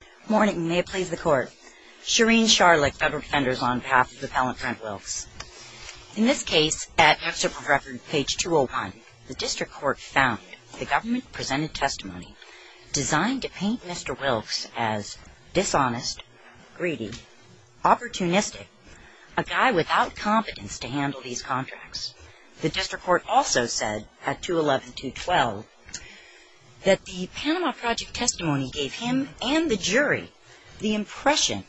Good morning, may it please the court. Shireen Sharlick, Federal Defenders, on behalf of the appellant Brent Wilkes. In this case, at Excerpt of Record, page 201, the District Court found the government-presented testimony designed to paint Mr. Wilkes as dishonest, greedy, opportunistic, a guy without competence to handle these contracts. The District Court also said, at 211-212, that the Panama Project testimony gave him and the jury the impression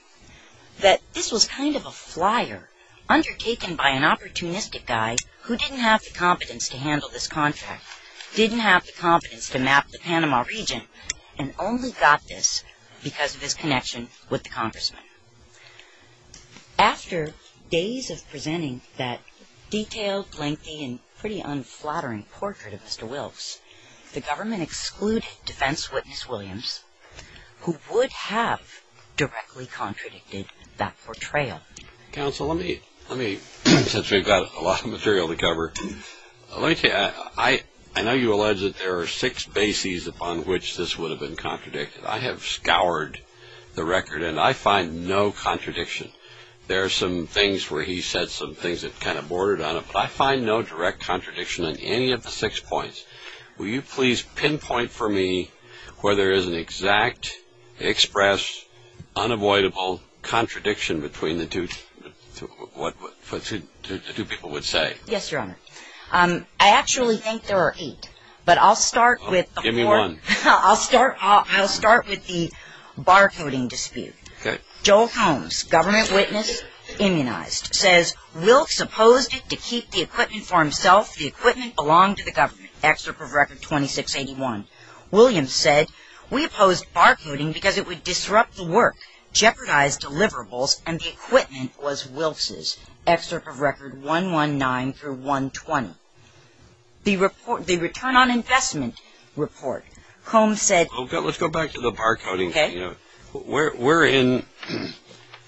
that this was kind of a flyer undertaken by an opportunistic guy who didn't have the competence to handle this contract, didn't have the competence to map the Panama region, and only got this because of his connection with the congressman. After days of presenting that detailed, lengthy, and pretty unflattering portrait of Mr. Wilkes, the government excluded defense witness Williams, who would have directly contradicted that portrayal. Counsel, let me, since we've got a lot of material to cover, let me tell you, I know you allege that there are six bases upon which this would have been contradicted. I have scoured the record, and I find no contradiction. There are some things where he said some things that kind of bordered on it, but I find no direct contradiction in any of the six points. Will you please pinpoint for me where there is an exact, express, unavoidable contradiction between the two people would say? Yes, Your Honor. I actually think there are eight, but I'll start with the barcoding dispute. Joel Holmes, government witness, immunized, says, Wilkes opposed it to keep the equipment for himself. The equipment belonged to the government. Excerpt of Record 2681. Williams said, We opposed barcoding because it would disrupt the work, jeopardize deliverables, and the equipment was Wilkes's. Excerpt of Record 119-120. The Return on Investment Report. Holmes said, Okay, let's go back to the barcoding.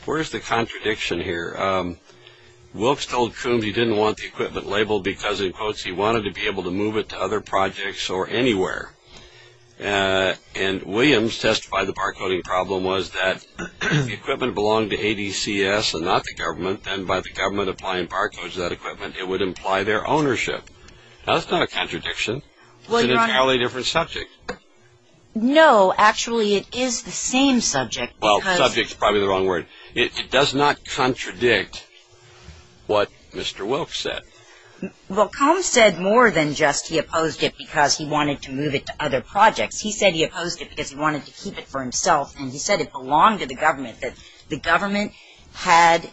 Where is the contradiction here? Wilkes told Coombs he didn't want the equipment labeled because, in quotes, he wanted to be able to move it to other projects or anywhere. And Williams testified the barcoding problem was that the equipment belonged to ADCS and not the government, and by the government applying barcodes to that equipment, it would imply their ownership. Now, that's not a contradiction. It's an entirely different subject. No, actually, it is the same subject. Well, subject is probably the wrong word. It does not contradict what Mr. Wilkes said. Well, Combs said more than just he opposed it because he wanted to move it to other projects. He said he opposed it because he wanted to keep it for himself, and he said it belonged to the government, that the government had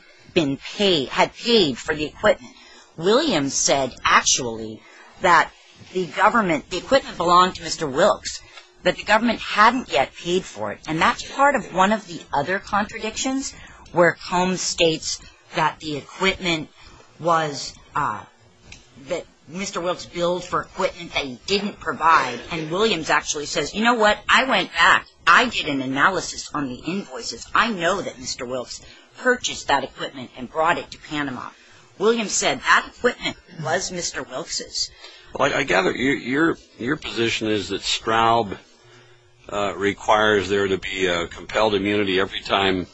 paid for the equipment. Williams said, actually, that the equipment belonged to Mr. Wilkes, but the government hadn't yet paid for it. And that's part of one of the other contradictions, where Combs states that Mr. Wilkes billed for equipment they didn't provide, and Williams actually says, You know what? I went back. I did an analysis on the invoices. I know that Mr. Wilkes purchased that equipment and brought it to Panama. Williams said that equipment was Mr. Wilkes'. Well, I gather your position is that Straub requires there to be a compelled immunity every time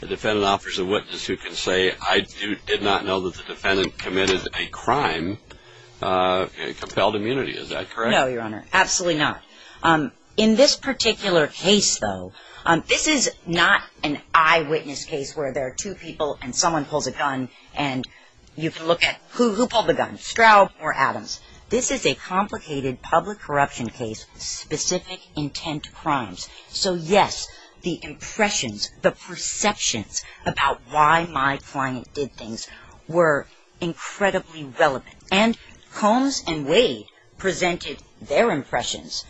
the defendant offers a witness who can say, I did not know that the defendant committed a crime, a compelled immunity. Is that correct? No, Your Honor. Absolutely not. In this particular case, though, this is not an eyewitness case where there are two people and someone pulls a gun and you can look at who pulled the gun, Straub or Adams. This is a complicated public corruption case with specific intent crimes. So, yes, the impressions, the perceptions about why my client did things were incredibly relevant. And Combs and Wade presented their impressions.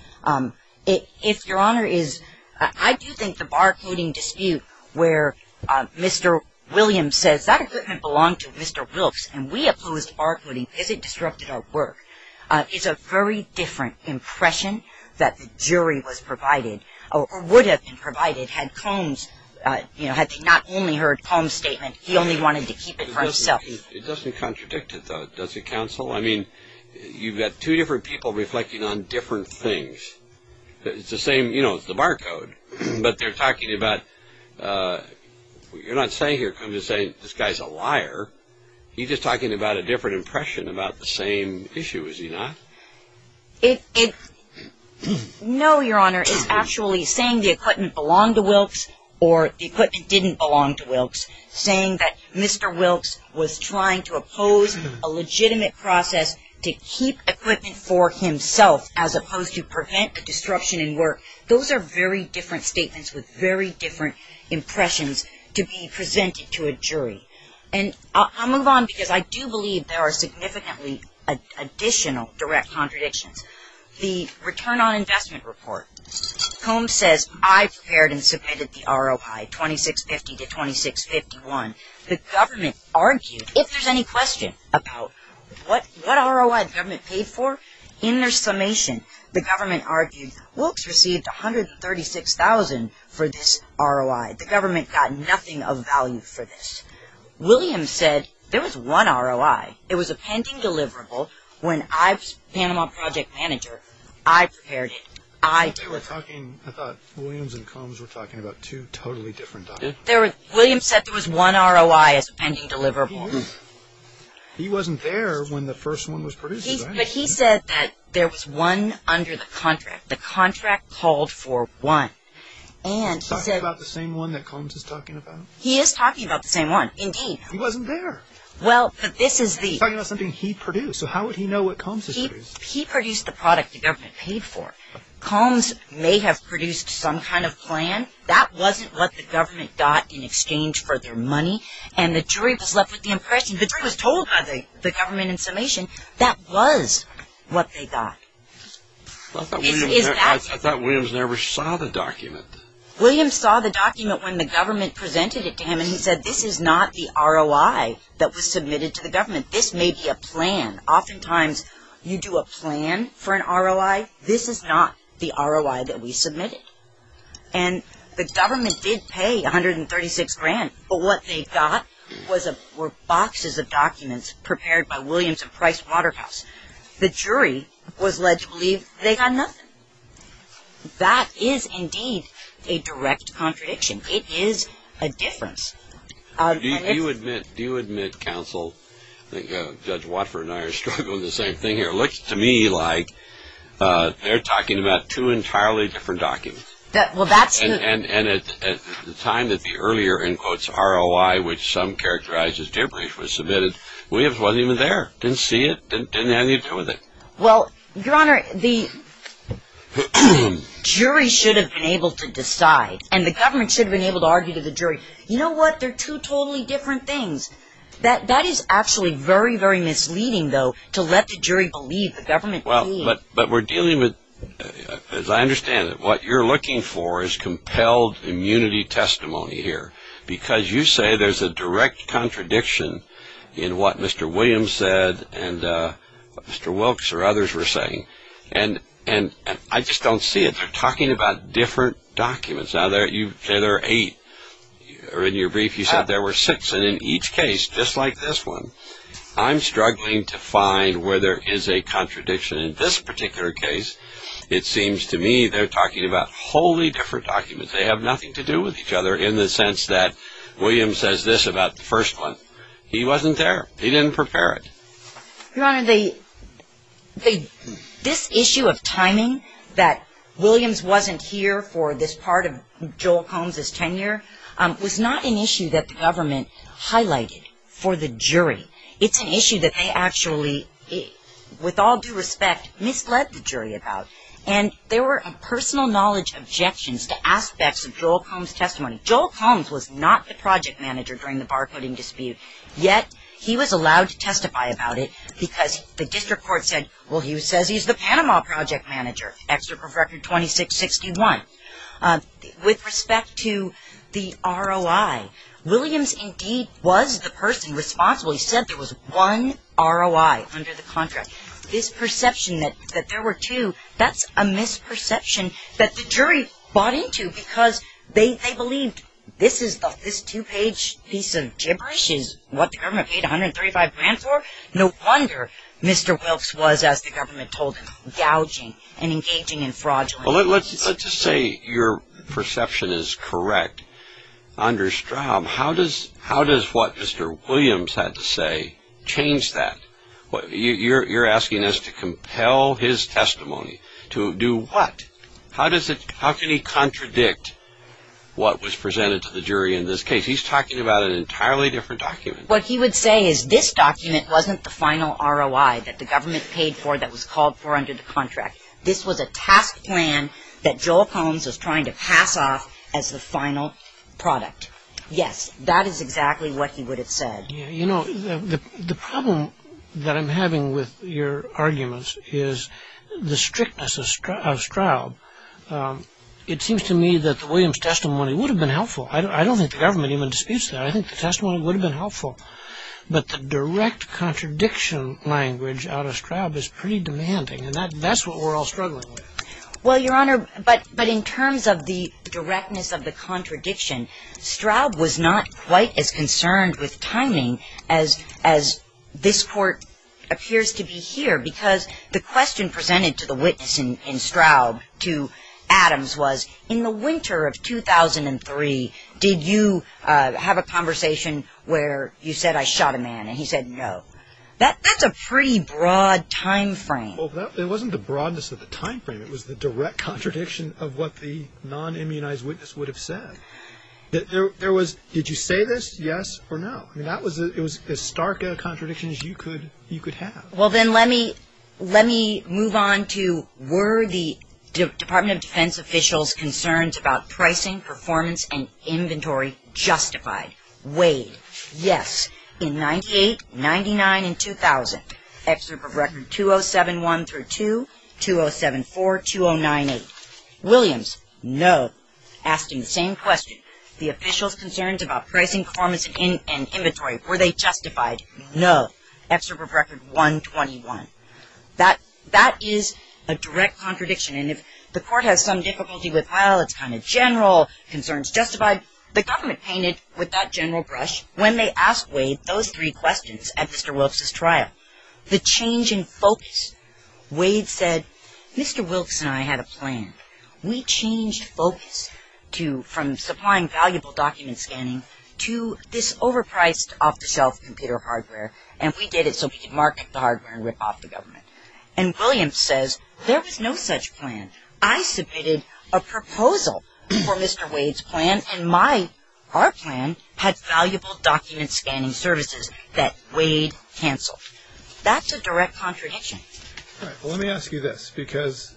If Your Honor is, I do think the bar coding dispute where Mr. Williams says, That equipment belonged to Mr. Wilkes and we opposed bar coding because it disrupted our work, is a very different impression that the jury was provided or would have been provided had Combs, you know, had they not only heard Combs' statement, he only wanted to keep it for himself. It doesn't contradict it, though, does it, counsel? I mean, you've got two different people reflecting on different things. It's the same, you know, it's the bar code, but they're talking about, you're not saying here, Combs is saying this guy's a liar. He's just talking about a different impression about the same issue, is he not? No, Your Honor. It's actually saying the equipment belonged to Wilkes or the equipment didn't belong to Wilkes, saying that Mr. Wilkes was trying to oppose a legitimate process to keep equipment for himself as opposed to prevent the disruption in work. Those are very different statements with very different impressions to be presented to a jury. And I'll move on because I do believe there are significantly additional direct contradictions. The return on investment report. Combs says, I prepared and submitted the ROI, 2650 to 2651. The government argued, if there's any question about what ROI the government paid for, in their summation, the government argued, Wilkes received 136,000 for this ROI. The government got nothing of value for this. Williams said, there was one ROI. It was a pending deliverable. When I was Panama project manager, I prepared it. I delivered it. I thought Williams and Combs were talking about two totally different documents. Williams said there was one ROI as a pending deliverable. He wasn't there when the first one was produced. But he said that there was one under the contract. The contract called for one. Is he talking about the same one that Combs is talking about? He is talking about the same one, indeed. He wasn't there. He's talking about something he produced. How would he know what Combs produced? He produced the product the government paid for. Combs may have produced some kind of plan. That wasn't what the government got in exchange for their money. And the jury was left with the impression, the jury was told by the government in summation, that was what they got. I thought Williams never saw the document. Williams saw the document when the government presented it to him. And he said this is not the ROI that was submitted to the government. This may be a plan. Oftentimes you do a plan for an ROI. This is not the ROI that we submitted. And the government did pay $136,000. But what they got were boxes of documents prepared by Williams and Price Waterhouse. The jury was led to believe they got nothing. That is indeed a direct contradiction. It is a difference. Do you admit, counsel, Judge Watford and I are struggling with the same thing here. It looks to me like they're talking about two entirely different documents. And at the time that the earlier, in quotes, ROI, which some characterize as gibberish, was submitted, Williams wasn't even there, didn't see it, didn't have anything to do with it. Well, Your Honor, the jury should have been able to decide. And the government should have been able to argue to the jury. You know what? They're two totally different things. That is actually very, very misleading, though, to let the jury believe the government did. But we're dealing with, as I understand it, what you're looking for is compelled immunity testimony here. Because you say there's a direct contradiction in what Mr. Williams said and what Mr. Wilkes or others were saying. And I just don't see it. They're talking about different documents. Now, there are eight. In your brief, you said there were six. And in each case, just like this one, I'm struggling to find where there is a contradiction. In this particular case, it seems to me they're talking about wholly different documents. They have nothing to do with each other in the sense that Williams says this about the first one. He wasn't there. He didn't prepare it. Your Honor, this issue of timing, that Williams wasn't here for this part of Joel Combs' tenure, was not an issue that the government highlighted for the jury. It's an issue that they actually, with all due respect, misled the jury about. And there were personal knowledge objections to aspects of Joel Combs' testimony. Joel Combs was not the project manager during the barcoding dispute, yet he was allowed to testify about it because the district court said, well, he says he's the Panama project manager, Excerpt from Record 2661. With respect to the ROI, Williams indeed was the person responsible. He said there was one ROI under the contract. This perception that there were two, that's a misperception that the jury bought into because they believed this two-page piece of gibberish is what the government paid $135,000 for? No wonder Mr. Wilkes was, as the government told him, gouging and engaging in fraudulent activities. Let's just say your perception is correct. Under Straub, how does what Mr. Williams had to say change that? You're asking us to compel his testimony to do what? How can he contradict what was presented to the jury in this case? He's talking about an entirely different document. What he would say is this document wasn't the final ROI that the government paid for that was called for under the contract. This was a task plan that Joel Combs was trying to pass off as the final product. Yes, that is exactly what he would have said. You know, the problem that I'm having with your arguments is the strictness of Straub. It seems to me that the Williams testimony would have been helpful. I don't think the government even disputes that. I think the testimony would have been helpful. But the direct contradiction language out of Straub is pretty demanding. And that's what we're all struggling with. Well, Your Honor, but in terms of the directness of the contradiction, Straub was not quite as concerned with timing as this court appears to be here because the question presented to the witness in Straub to Adams was, in the winter of 2003, did you have a conversation where you said I shot a man and he said no? That's a pretty broad time frame. Well, it wasn't the broadness of the time frame. It was the direct contradiction of what the non-immunized witness would have said. There was, did you say this, yes or no? I mean, it was as stark a contradiction as you could have. Well, then let me move on to, were the Department of Defense officials' concerns about pricing, performance, and inventory justified? Wade, yes. In 98, 99, and 2000. Excerpt of Record 207-1-2, 207-4, 209-8. Williams, no. Asked him the same question. The officials' concerns about pricing, performance, and inventory, were they justified? No. Excerpt of Record 121. That is a direct contradiction. And if the court has some difficulty with, well, it's kind of general, concerns justified, the government painted with that general brush when they asked Wade those three questions at Mr. Wilkes' trial. The change in focus. Wade said, Mr. Wilkes and I had a plan. We changed focus to, from supplying valuable document scanning, to this overpriced off-the-shelf computer hardware, and we did it so we could market the hardware and rip off the government. And Williams says, there was no such plan. I submitted a proposal for Mr. Wade's plan, and my, our plan had valuable document scanning services that Wade canceled. That's a direct contradiction. All right. Well, let me ask you this, because,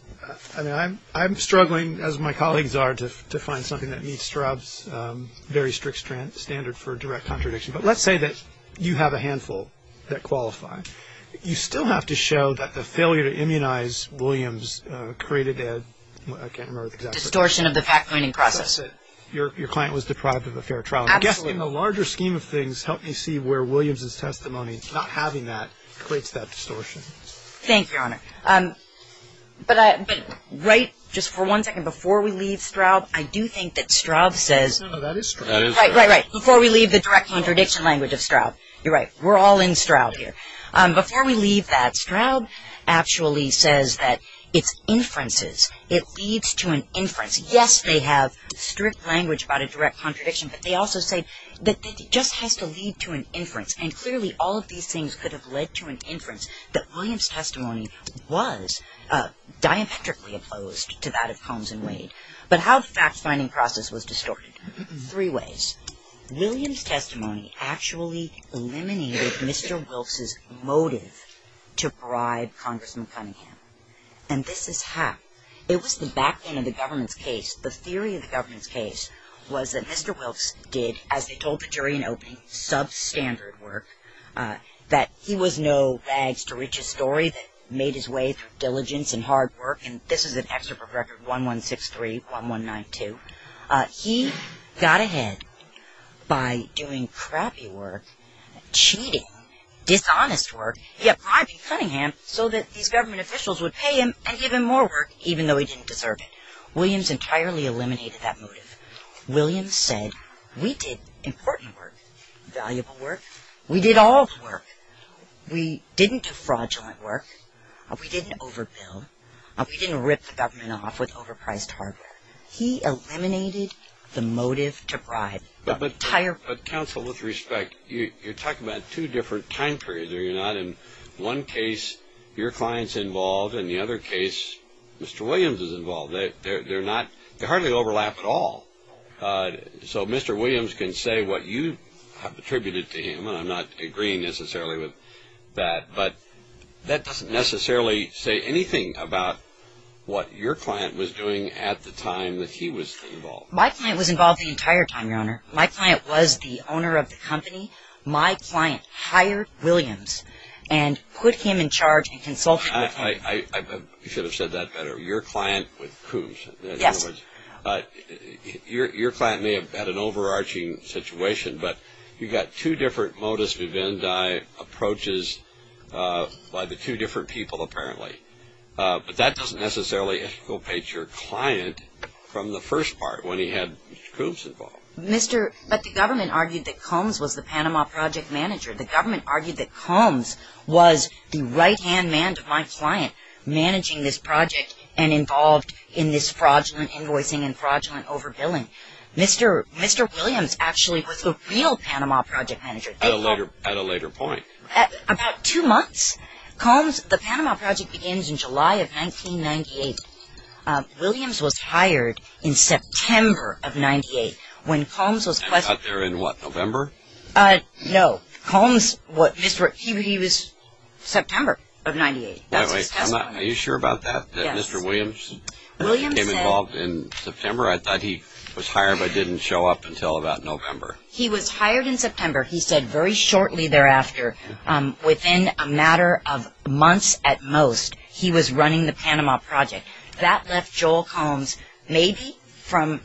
I mean, I'm struggling, as my colleagues are, to find something that meets Straub's very strict standard for direct contradiction. But let's say that you have a handful that qualify. You still have to show that the failure to immunize Williams created a, I can't remember exactly. Distortion of the fact-finding process. Your client was deprived of a fair trial. Absolutely. I guess in the larger scheme of things, help me see where Williams' testimony, not having that, creates that distortion. Thank you, Your Honor. But right, just for one second, before we leave Straub, I do think that Straub says. No, no, that is Straub. Right, right, right. Before we leave the direct contradiction language of Straub. You're right. We're all in Straub here. Before we leave that, Straub actually says that it's inferences. It leads to an inference. Yes, they have strict language about a direct contradiction, but they also say that it just has to lead to an inference. And clearly, all of these things could have led to an inference that Williams' testimony was diametrically opposed to that of Combs and Wade. But how the fact-finding process was distorted? Three ways. First, Williams' testimony actually eliminated Mr. Wilkes' motive to bribe Congressman Cunningham. And this is how. It was the backbone of the government's case. The theory of the government's case was that Mr. Wilkes did, as they told the jury in opening, substandard work, that he was no rags-to-riches story that made his way through diligence and hard work. And this is an excerpt from Record 1163-1192. He got ahead by doing crappy work, cheating, dishonest work. He had bribed Cunningham so that these government officials would pay him and give him more work, even though he didn't deserve it. Williams entirely eliminated that motive. Williams said, we did important work, valuable work. We did all of the work. We didn't do fraudulent work. We didn't overbill. We didn't rip the government off with overpriced hardware. He eliminated the motive to bribe. But, Counsel, with respect, you're talking about two different time periods, are you not? In one case, your client's involved. In the other case, Mr. Williams is involved. They hardly overlap at all. So Mr. Williams can say what you have attributed to him, and I'm not agreeing necessarily with that, but that doesn't necessarily say anything about what your client was doing at the time that he was involved. My client was involved the entire time, Your Honor. My client was the owner of the company. My client hired Williams and put him in charge and consulted with him. I should have said that better. Your client with Coombs. Yes. Your client may have had an overarching situation, but you've got two different modus vivendi approaches by the two different people, apparently. But that doesn't necessarily exculpate your client from the first part when he had Coombs involved. But the government argued that Coombs was the Panama Project manager. The government argued that Coombs was the right-hand man to my client, managing this project and involved in this fraudulent invoicing and fraudulent overbilling. Mr. Williams actually was the real Panama Project manager. At a later point. About two months. Coombs, the Panama Project begins in July of 1998. Williams was hired in September of 1998 when Coombs was And he got there in what, November? No. Coombs, he was September of 1998. Wait, wait. Are you sure about that? Yes. That Mr. Williams became involved in September? I thought he was hired but didn't show up until about November. He was hired in September. He said very shortly thereafter, within a matter of months at most, he was running the Panama Project. That left Joel Coombs maybe from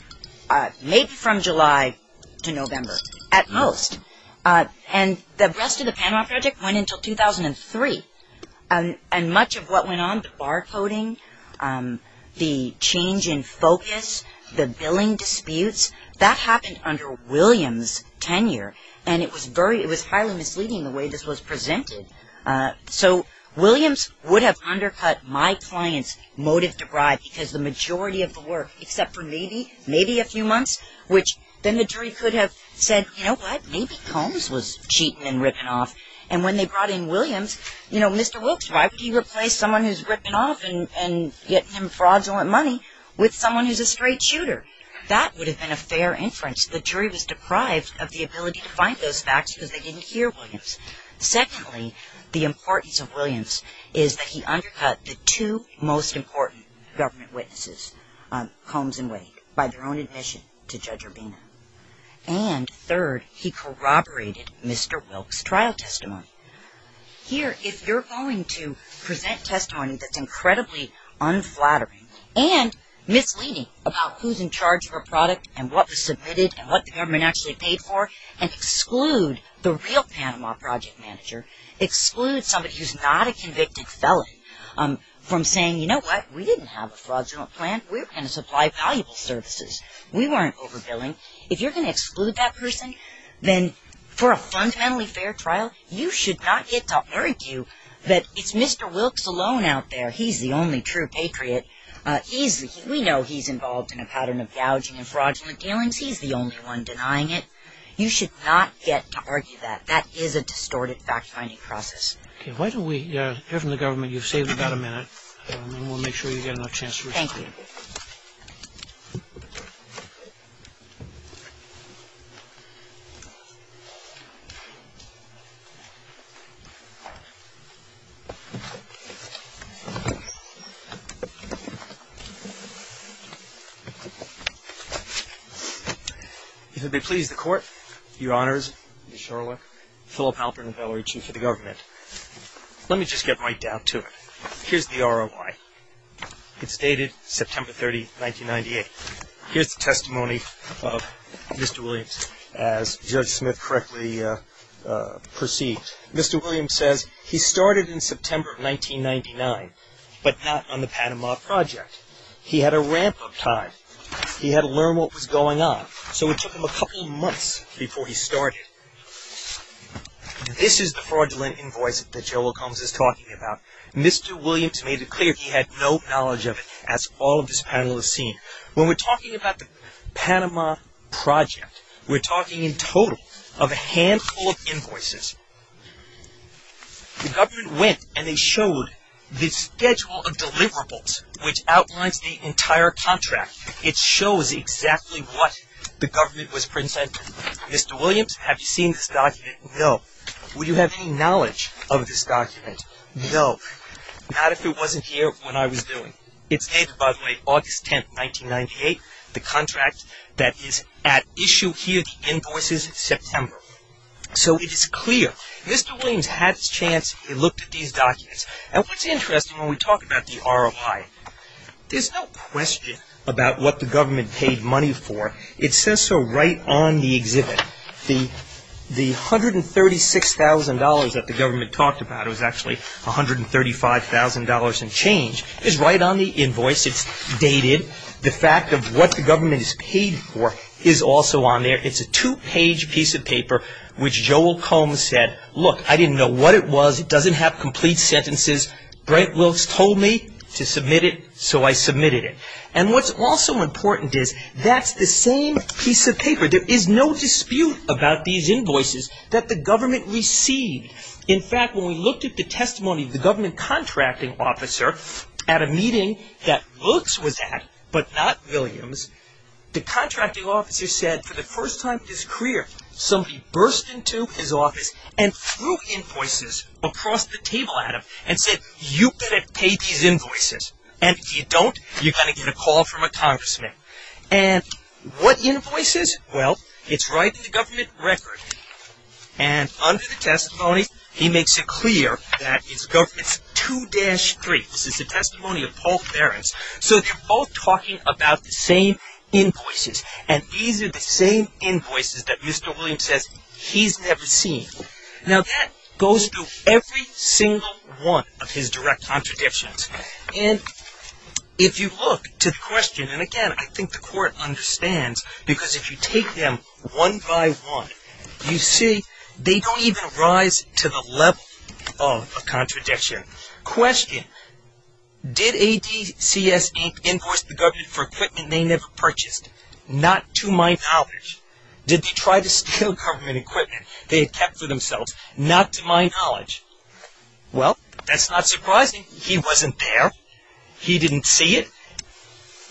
July to November at most. And the rest of the Panama Project went until 2003. And much of what went on, the barcoding, the change in focus, the billing disputes, that happened under Williams' tenure. And it was highly misleading the way this was presented. So Williams would have undercut my client's motive to bribe because the majority of the work, except for maybe a few months, which then the jury could have said, you know what, maybe Coombs was cheating and ripping off. And when they brought in Williams, you know, Mr. Wilkes, why would he replace someone who's ripping off and getting him fraudulent money with someone who's a straight shooter? That would have been a fair inference. The jury was deprived of the ability to find those facts because they didn't hear Williams. Secondly, the importance of Williams is that he undercut the two most important government witnesses, Coombs and Wade, by their own admission to Judge Urbina. And third, he corroborated Mr. Wilkes' trial testimony. Here, if you're going to present testimony that's incredibly unflattering and misleading about who's in charge of a product and what was submitted and what the government actually paid for and exclude the real Panama Project manager, exclude somebody who's not a convicted felon from saying, you know what, we didn't have a fraudulent plan. We're going to supply valuable services. We weren't overbilling. If you're going to exclude that person, then for a fundamentally fair trial, you should not get to argue that it's Mr. Wilkes alone out there. He's the only true patriot. We know he's involved in a pattern of gouging and fraudulent dealings. He's the only one denying it. You should not get to argue that. That is a distorted fact-finding process. Okay, why don't we hear from the government. You've saved about a minute, and we'll make sure you get enough chance to respond. Thank you. Thank you. If it would please the Court, Your Honors, Mr. Shorlock, Philip Halpern, Valerie Chief of the Government, let me just get right down to it. Here's the ROI. It's dated September 30, 1998. Here's the testimony of Mr. Williams. As Judge Smith correctly perceived, Mr. Williams says, he started in September of 1999, but not on the Panama Project. He had a ramp up time. He had to learn what was going on. So it took him a couple of months before he started. This is the fraudulent invoice that Joe Wilkes is talking about. Mr. Williams made it clear he had no knowledge of it, as all of this panel has seen. When we're talking about the Panama Project, we're talking in total of a handful of invoices. The government went and they showed the schedule of deliverables, which outlines the entire contract. It shows exactly what the government was presenting. Mr. Williams, have you seen this document? No. Would you have any knowledge of this document? No. Not if it wasn't here when I was doing it. It's dated, by the way, August 10, 1998. The contract that is at issue here, the invoice is September. So it is clear Mr. Williams had his chance. He looked at these documents. And what's interesting when we talk about the ROI, there's no question about what the government paid money for. It says so right on the exhibit. The $136,000 that the government talked about, it was actually $135,000 and change, is right on the invoice. It's dated. The fact of what the government is paid for is also on there. It's a two-page piece of paper which Joel Combs said, look, I didn't know what it was. It doesn't have complete sentences. Brent Wilkes told me to submit it, so I submitted it. And what's also important is that's the same piece of paper. There is no dispute about these invoices that the government received. In fact, when we looked at the testimony of the government contracting officer at a meeting that Wilkes was at but not Williams, the contracting officer said for the first time in his career, somebody burst into his office and threw invoices across the table at him and said you've got to pay these invoices. And if you don't, you're going to get a call from a congressman. And what invoices? Well, it's right in the government record. And under the testimony, he makes it clear that it's government's 2-3. This is the testimony of Paul Ference. So they're both talking about the same invoices, and these are the same invoices that Mr. Williams says he's never seen. Now that goes through every single one of his direct contradictions. And if you look to the question, and again, I think the court understands because if you take them one by one, you see they don't even rise to the level of a contradiction. Question, did ADCS, Inc. invoice the government for equipment they never purchased? Not to my knowledge. Did they try to steal government equipment they had kept for themselves? Not to my knowledge. Well, that's not surprising. He wasn't there. He didn't see it.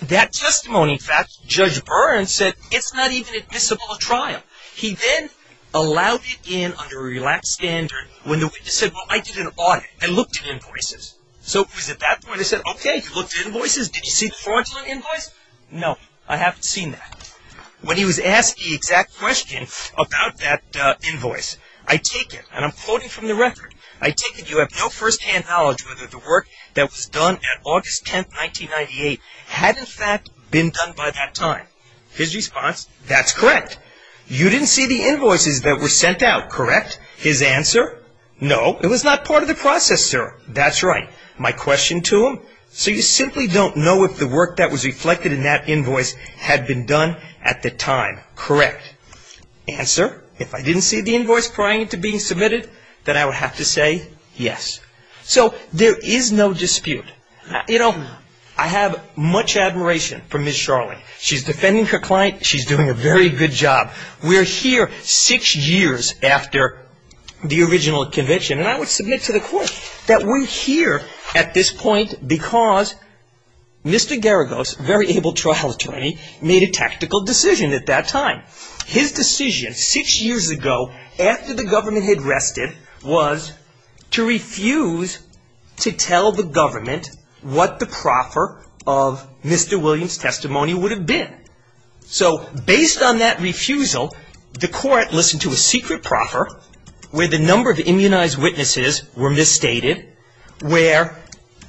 That testimony, in fact, Judge Byrne said it's not even admissible at trial. He then allowed it in under a relaxed standard when the witness said, well, I did an audit. I looked at invoices. So it was at that point they said, okay, you looked at invoices. Did you see the fraudulent invoice? No, I haven't seen that. When he was asked the exact question about that invoice, I take it, and I'm quoting from the record, I take it you have no firsthand knowledge whether the work that was done at August 10, 1998 had, in fact, been done by that time. His response, that's correct. You didn't see the invoices that were sent out, correct? His answer, no, it was not part of the process, sir. That's right. My question to him, so you simply don't know if the work that was reflected in that invoice had been done at the time, correct? Answer, if I didn't see the invoice prior to being submitted, then I would have to say yes. So there is no dispute. You know, I have much admiration for Ms. Sharling. She's defending her client. She's doing a very good job. We're here six years after the original convention, and I would submit to the court that we're here at this point because Mr. Garagos, very able trial attorney, made a tactical decision at that time. His decision six years ago, after the government had rested, was to refuse to tell the government what the proffer of Mr. Williams' testimony would have been. So based on that refusal, the court listened to a secret proffer, where the number of immunized witnesses were misstated, where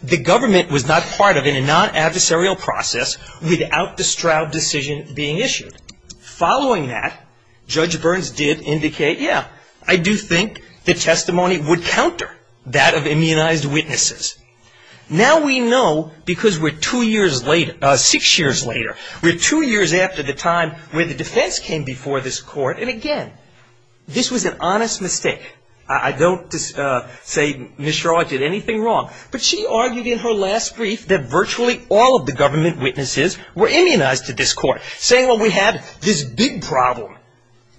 the government was not part of it in a non-adversarial process without the Stroud decision being issued. Following that, Judge Burns did indicate, yeah, I do think the testimony would counter that of immunized witnesses. Now we know because we're two years later, six years later. We're two years after the time when the defense came before this court, and again, this was an honest mistake. I don't say Ms. Sharling did anything wrong, but she argued in her last brief that virtually all of the government witnesses were immunized to this court, saying, well, we had this big problem.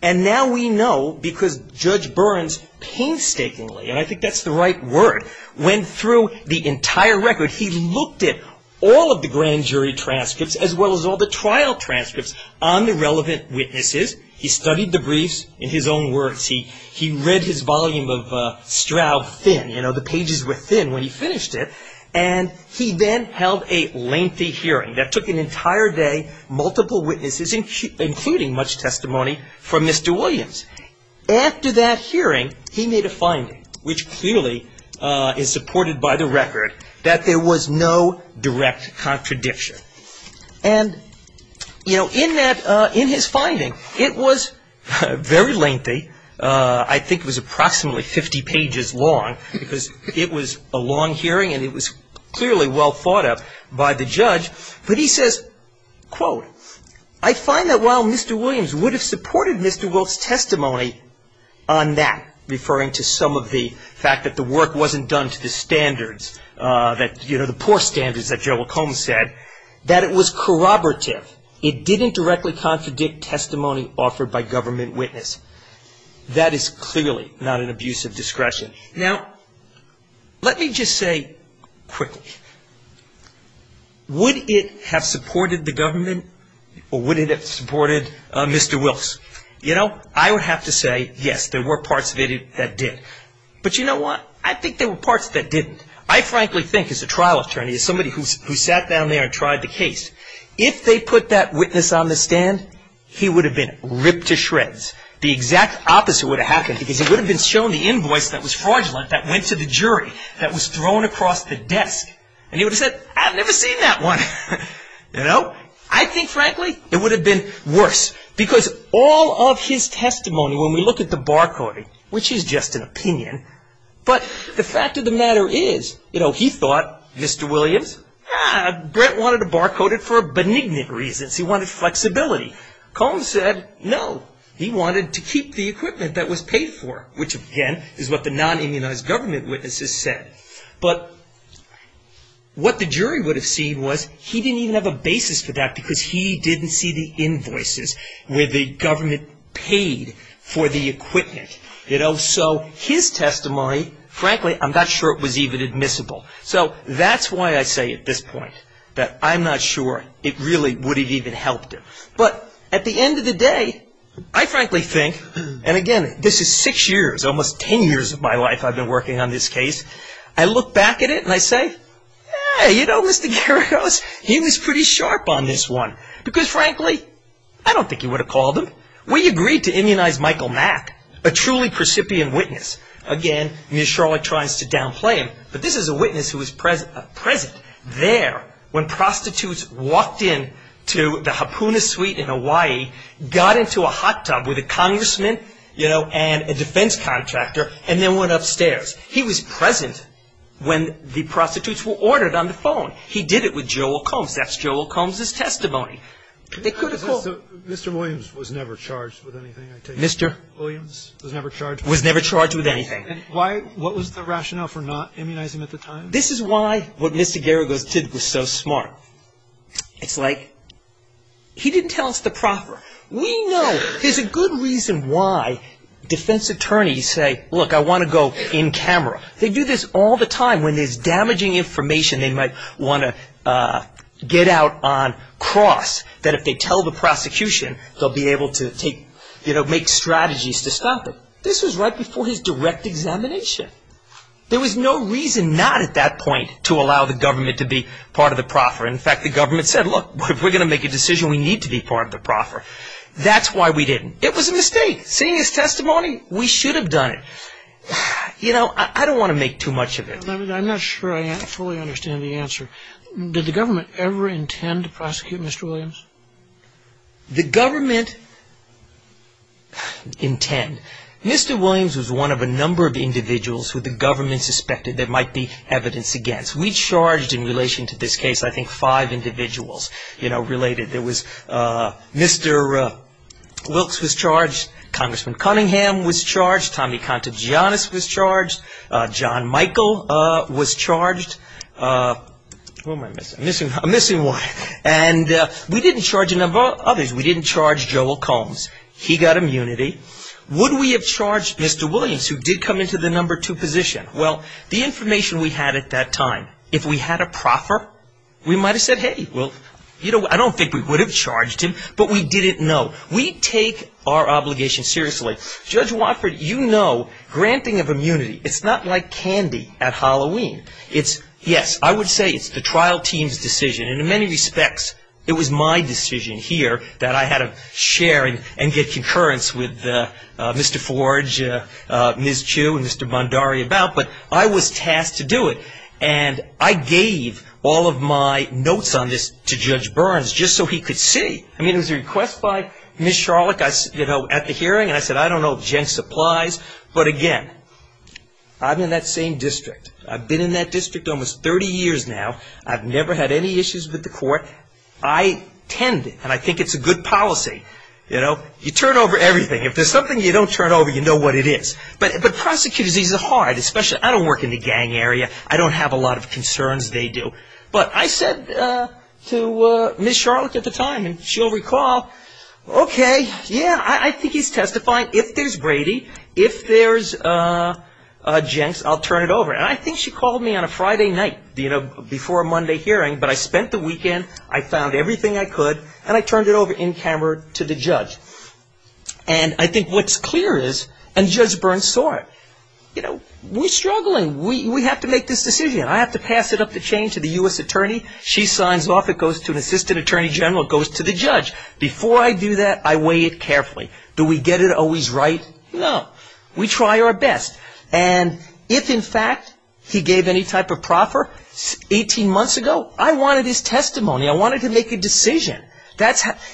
And now we know because Judge Burns painstakingly, and I think that's the right word, went through the entire record. He looked at all of the grand jury transcripts as well as all the trial transcripts on the relevant witnesses. He studied the briefs in his own words. He read his volume of Stroud thin. You know, the pages were thin when he finished it. And he then held a lengthy hearing that took an entire day, multiple witnesses, including much testimony from Mr. Williams. After that hearing, he made a finding, which clearly is supported by the record, that there was no direct contradiction. And, you know, in that, in his finding, it was very lengthy. I think it was approximately 50 pages long because it was a long hearing and it was clearly well thought of by the judge. But he says, quote, I find that while Mr. Williams would have supported Mr. Wolfe's testimony on that, referring to some of the fact that the work wasn't done to the standards, that, you know, the poor standards that Joe McComb said, that it was corroborative. It didn't directly contradict testimony offered by government witness. That is clearly not an abuse of discretion. Now, let me just say quickly, would it have supported the government or would it have supported Mr. Wilkes? You know, I would have to say, yes, there were parts of it that did. But you know what? I think there were parts that didn't. I frankly think as a trial attorney, as somebody who sat down there and tried the case, if they put that witness on the stand, he would have been ripped to shreds. The exact opposite would have happened because he would have been shown the invoice that was fraudulent, that went to the jury, that was thrown across the desk. And he would have said, I've never seen that one. You know, I think, frankly, it would have been worse because all of his testimony, when we look at the barcoding, which is just an opinion, but the fact of the matter is, you know, he thought Mr. Williams, ah, Brent wanted to barcode it for benignant reasons. He wanted flexibility. Collins said, no, he wanted to keep the equipment that was paid for, which again is what the non-immunized government witnesses said. But what the jury would have seen was he didn't even have a basis for that because he didn't see the invoices where the government paid for the equipment. You know, so his testimony, frankly, I'm not sure it was even admissible. So that's why I say at this point that I'm not sure it really would have even helped him. But at the end of the day, I frankly think, and again, this is six years, almost ten years of my life I've been working on this case, I look back at it and I say, hey, you know, Mr. Geragos, he was pretty sharp on this one because, frankly, I don't think he would have called him. We agreed to immunize Michael Mack, a truly precipient witness. Again, Ms. Sherlock tries to downplay him, but this is a witness who was present there when prostitutes walked in to the Hapuna suite in Hawaii, got into a hot tub with a congressman, you know, and a defense contractor, and then went upstairs. He was present when the prostitutes were ordered on the phone. He did it with Joel Combs. That's Joel Combs' testimony. They could have called him. So Mr. Williams was never charged with anything, I take it? Mr. Williams was never charged with anything. Was never charged with anything. And what was the rationale for not immunizing him at the time? This is why what Mr. Geragos did was so smart. It's like he didn't tell us the proper. We know there's a good reason why defense attorneys say, look, I want to go in camera. They do this all the time when there's damaging information they might want to get out on cross that if they tell the prosecution, they'll be able to make strategies to stop it. This was right before his direct examination. There was no reason not at that point to allow the government to be part of the proffer. In fact, the government said, look, if we're going to make a decision, we need to be part of the proffer. That's why we didn't. It was a mistake. Seeing his testimony, we should have done it. You know, I don't want to make too much of it. I'm not sure I fully understand the answer. Did the government ever intend to prosecute Mr. Williams? The government intend. Mr. Williams was one of a number of individuals who the government suspected there might be evidence against. We charged in relation to this case, I think, five individuals, you know, related. There was Mr. Wilkes was charged. Congressman Cunningham was charged. Tommy Contagionis was charged. John Michael was charged. Who am I missing? I'm missing one. And we didn't charge a number of others. We didn't charge Joel Combs. He got immunity. Would we have charged Mr. Williams, who did come into the number two position? Well, the information we had at that time, if we had a proffer, we might have said, hey, well, you know, I don't think we would have charged him. But we didn't know. We take our obligation seriously. Judge Watford, you know, granting of immunity, it's not like candy at Halloween. It's, yes, I would say it's the trial team's decision. In many respects, it was my decision here that I had to share and get concurrence with Mr. Forge, Ms. Chu, and Mr. Bondari about. But I was tasked to do it. And I gave all of my notes on this to Judge Burns just so he could see. I mean, it was a request by Ms. Charlock, you know, at the hearing. And I said, I don't know if Jenks applies. But, again, I'm in that same district. I've been in that district almost 30 years now. I've never had any issues with the court. I tend, and I think it's a good policy, you know, you turn over everything. If there's something you don't turn over, you know what it is. But prosecutors, these are hard, especially, I don't work in the gang area. I don't have a lot of concerns. They do. But I said to Ms. Charlock at the time, and she'll recall, okay, yeah, I think he's testifying. If there's Brady, if there's Jenks, I'll turn it over. And I think she called me on a Friday night, you know, before a Monday hearing. But I spent the weekend. I found everything I could. And I turned it over in camera to the judge. And I think what's clear is, and Judge Burns saw it, you know, we're struggling. We have to make this decision. I have to pass it up the chain to the U.S. attorney. She signs off. It goes to an assistant attorney general. It goes to the judge. Before I do that, I weigh it carefully. Do we get it always right? No. We try our best. And if, in fact, he gave any type of proffer 18 months ago, I wanted his testimony. I wanted to make a decision.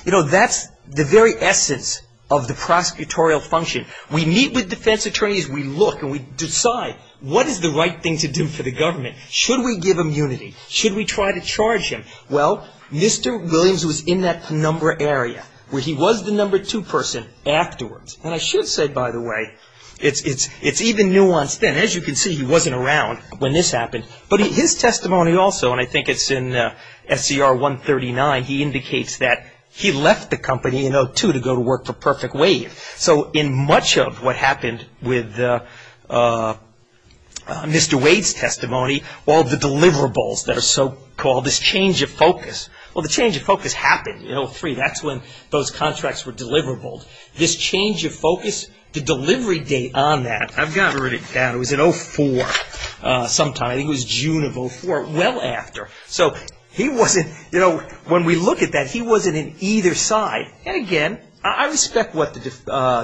You know, that's the very essence of the prosecutorial function. We meet with defense attorneys. We look and we decide what is the right thing to do for the government. Should we give immunity? Should we try to charge him? Well, Mr. Williams was in that number area where he was the number two person afterwards. And I should say, by the way, it's even nuanced then. As you can see, he wasn't around when this happened. But his testimony also, and I think it's in SCR 139, he indicates that he left the company in 2002 to go to work for Perfect Wave. So in much of what happened with Mr. Wade's testimony, all the deliverables that are so-called, this change of focus. Well, the change of focus happened in 2003. That's when those contracts were deliverable. This change of focus, the delivery date on that, I've gotten rid of that. It was in 2004 sometime. I think it was June of 2004. Well after. So he wasn't, you know, when we look at that, he wasn't in either side. And again, I respect what the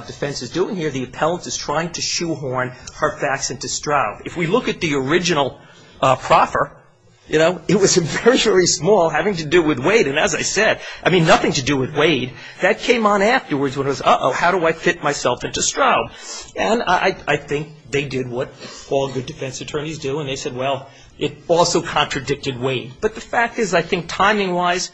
defense is doing here. The appellant is trying to shoehorn Harfax into Stroud. If we look at the original proffer, you know, it was very small having to do with Wade. And as I said, I mean, nothing to do with Wade. That came on afterwards when it was, uh-oh, how do I fit myself into Stroud? And I think they did what all good defense attorneys do, and they said, well, it also contradicted Wade. But the fact is I think timing-wise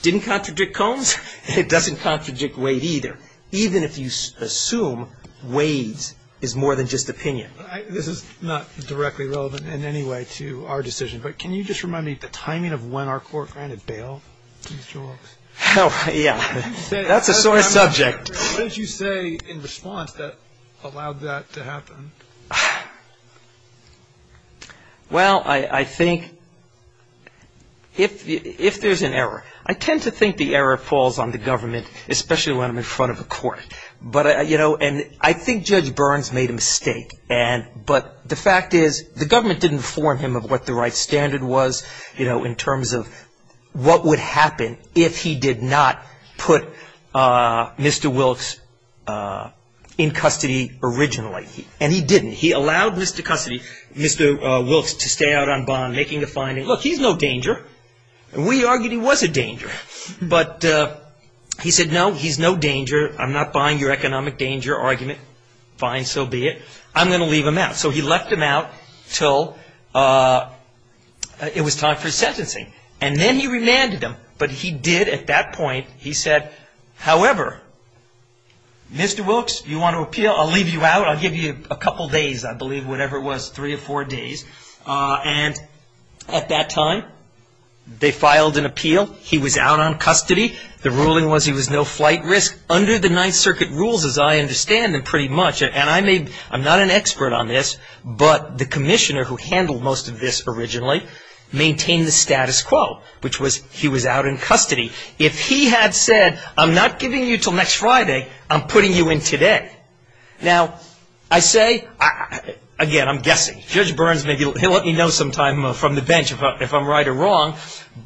didn't contradict Combs, and it doesn't contradict Wade either, even if you assume Wade's is more than just opinion. This is not directly relevant in any way to our decision, but can you just remind me the timing of when our court granted bail to Mr. Wilkes? Oh, yeah. That's a sore subject. What did you say in response that allowed that to happen? Well, I think if there's an error. I tend to think the error falls on the government, especially when I'm in front of a court. But, you know, and I think Judge Burns made a mistake, but the fact is the government didn't inform him of what the right standard was, you know, in terms of what would happen if he did not put Mr. Wilkes in custody originally. And he didn't. He allowed Mr. Wilkes to stay out on bond, making a finding. Look, he's no danger. We argued he was a danger, but he said, no, he's no danger. I'm not buying your economic danger argument. Fine, so be it. I'm going to leave him out. So he left him out until it was time for sentencing. And then he remanded him. But he did at that point, he said, however, Mr. Wilkes, you want to appeal? I'll leave you out. I'll give you a couple days, I believe, whatever it was, three or four days. And at that time, they filed an appeal. He was out on custody. The ruling was he was no flight risk. Under the Ninth Circuit rules, as I understand them pretty much, and I'm not an expert on this, but the commissioner who handled most of this originally maintained the status quo, which was he was out in custody. If he had said, I'm not giving you until next Friday, I'm putting you in today. Now, I say, again, I'm guessing. Judge Burns, he'll let me know sometime from the bench if I'm right or wrong.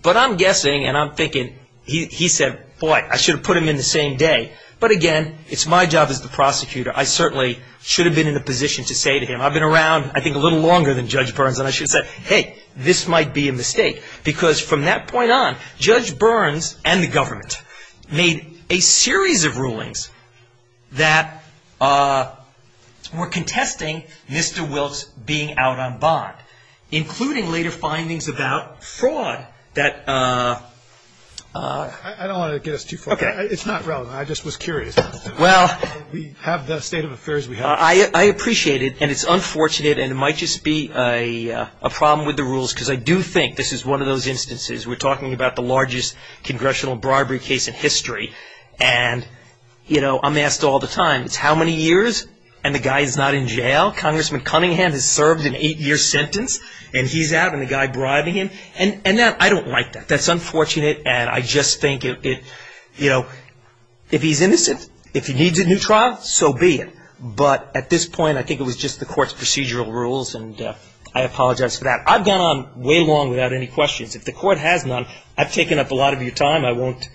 But I'm guessing and I'm thinking, he said, boy, I should have put him in the same day. But, again, it's my job as the prosecutor. I certainly should have been in a position to say to him, I've been around I think a little longer than Judge Burns, and I should have said, hey, this might be a mistake. Because from that point on, Judge Burns and the government made a series of rulings that were contesting Mr. Wilkes being out on bond, including later findings about fraud that ---- I don't want to get us too far. Okay. It's not relevant. I just was curious. Well. We have the state of affairs we have. I appreciate it. And it's unfortunate. And it might just be a problem with the rules, because I do think this is one of those instances. We're talking about the largest congressional bribery case in history. And, you know, I'm asked all the time, it's how many years, and the guy is not in jail? Congressman Cunningham has served an eight-year sentence, and he's out, and the guy bribing him. And I don't like that. That's unfortunate. And I just think, you know, if he's innocent, if he needs a new trial, so be it. But at this point, I think it was just the court's procedural rules, and I apologize for that. I've gone on way long without any questions. If the court has none, I've taken up a lot of your time. I won't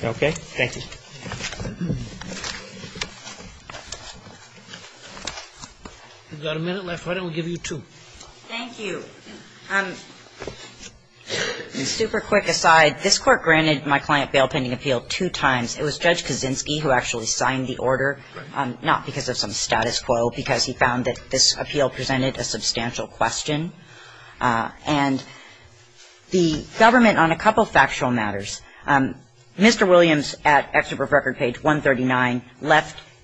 ---- okay? Thank you. We've got a minute left. Why don't we give you two? Thank you. Super quick aside, this court granted my client bail pending appeal two times. It was Judge Kaczynski who actually signed the order, not because of some status quo, because he found that this appeal presented a substantial question. And the government, on a couple of factual matters, Mr. Williams, at excerpt of record page 139,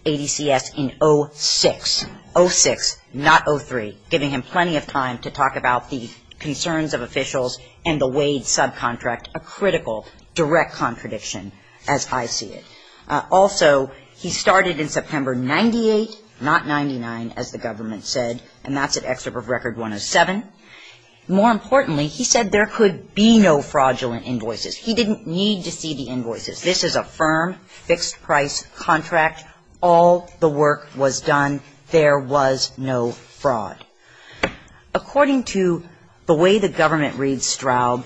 in 06, 06, not 03, giving him plenty of time to talk about the concerns of officials and the Wade subcontract, a critical direct contradiction, as I see it. Also, he started in September 98, not 99, as the government said, and that's at excerpt of record 107. More importantly, he said there could be no fraudulent invoices. He didn't need to see the invoices. This is a firm, fixed-price contract. All the work was done. There was no fraud. According to the way the government reads Straub,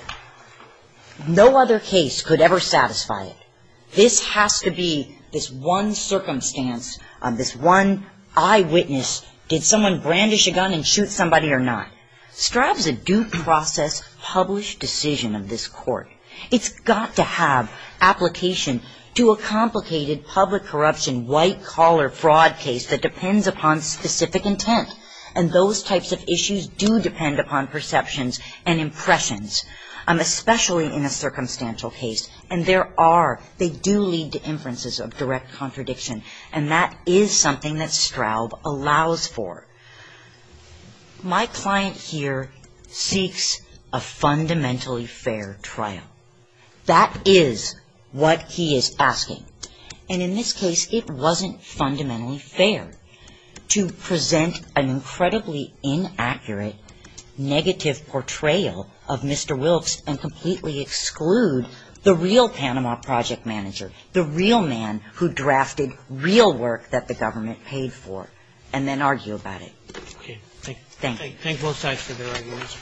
no other case could ever satisfy it. This has to be this one circumstance, this one eyewitness, did someone brandish a gun and shoot somebody or not? Straub's a due process, published decision of this court. It's got to have application to a complicated public corruption, white-collar fraud case that depends upon specific intent. And those types of issues do depend upon perceptions and impressions, especially in a circumstantial case. And there are, they do lead to inferences of direct contradiction. And that is something that Straub allows for. My client here seeks a fundamentally fair trial. That is what he is asking. And in this case, it wasn't fundamentally fair to present an incredibly inaccurate, negative portrayal of Mr. Wilkes and completely exclude the real Panama project manager, the real man who drafted real work that the government paid for, and then argue about it. Okay. Thank you. Thank both sides for their arguments.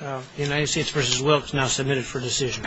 The United States v. Wilkes now submitted for decision.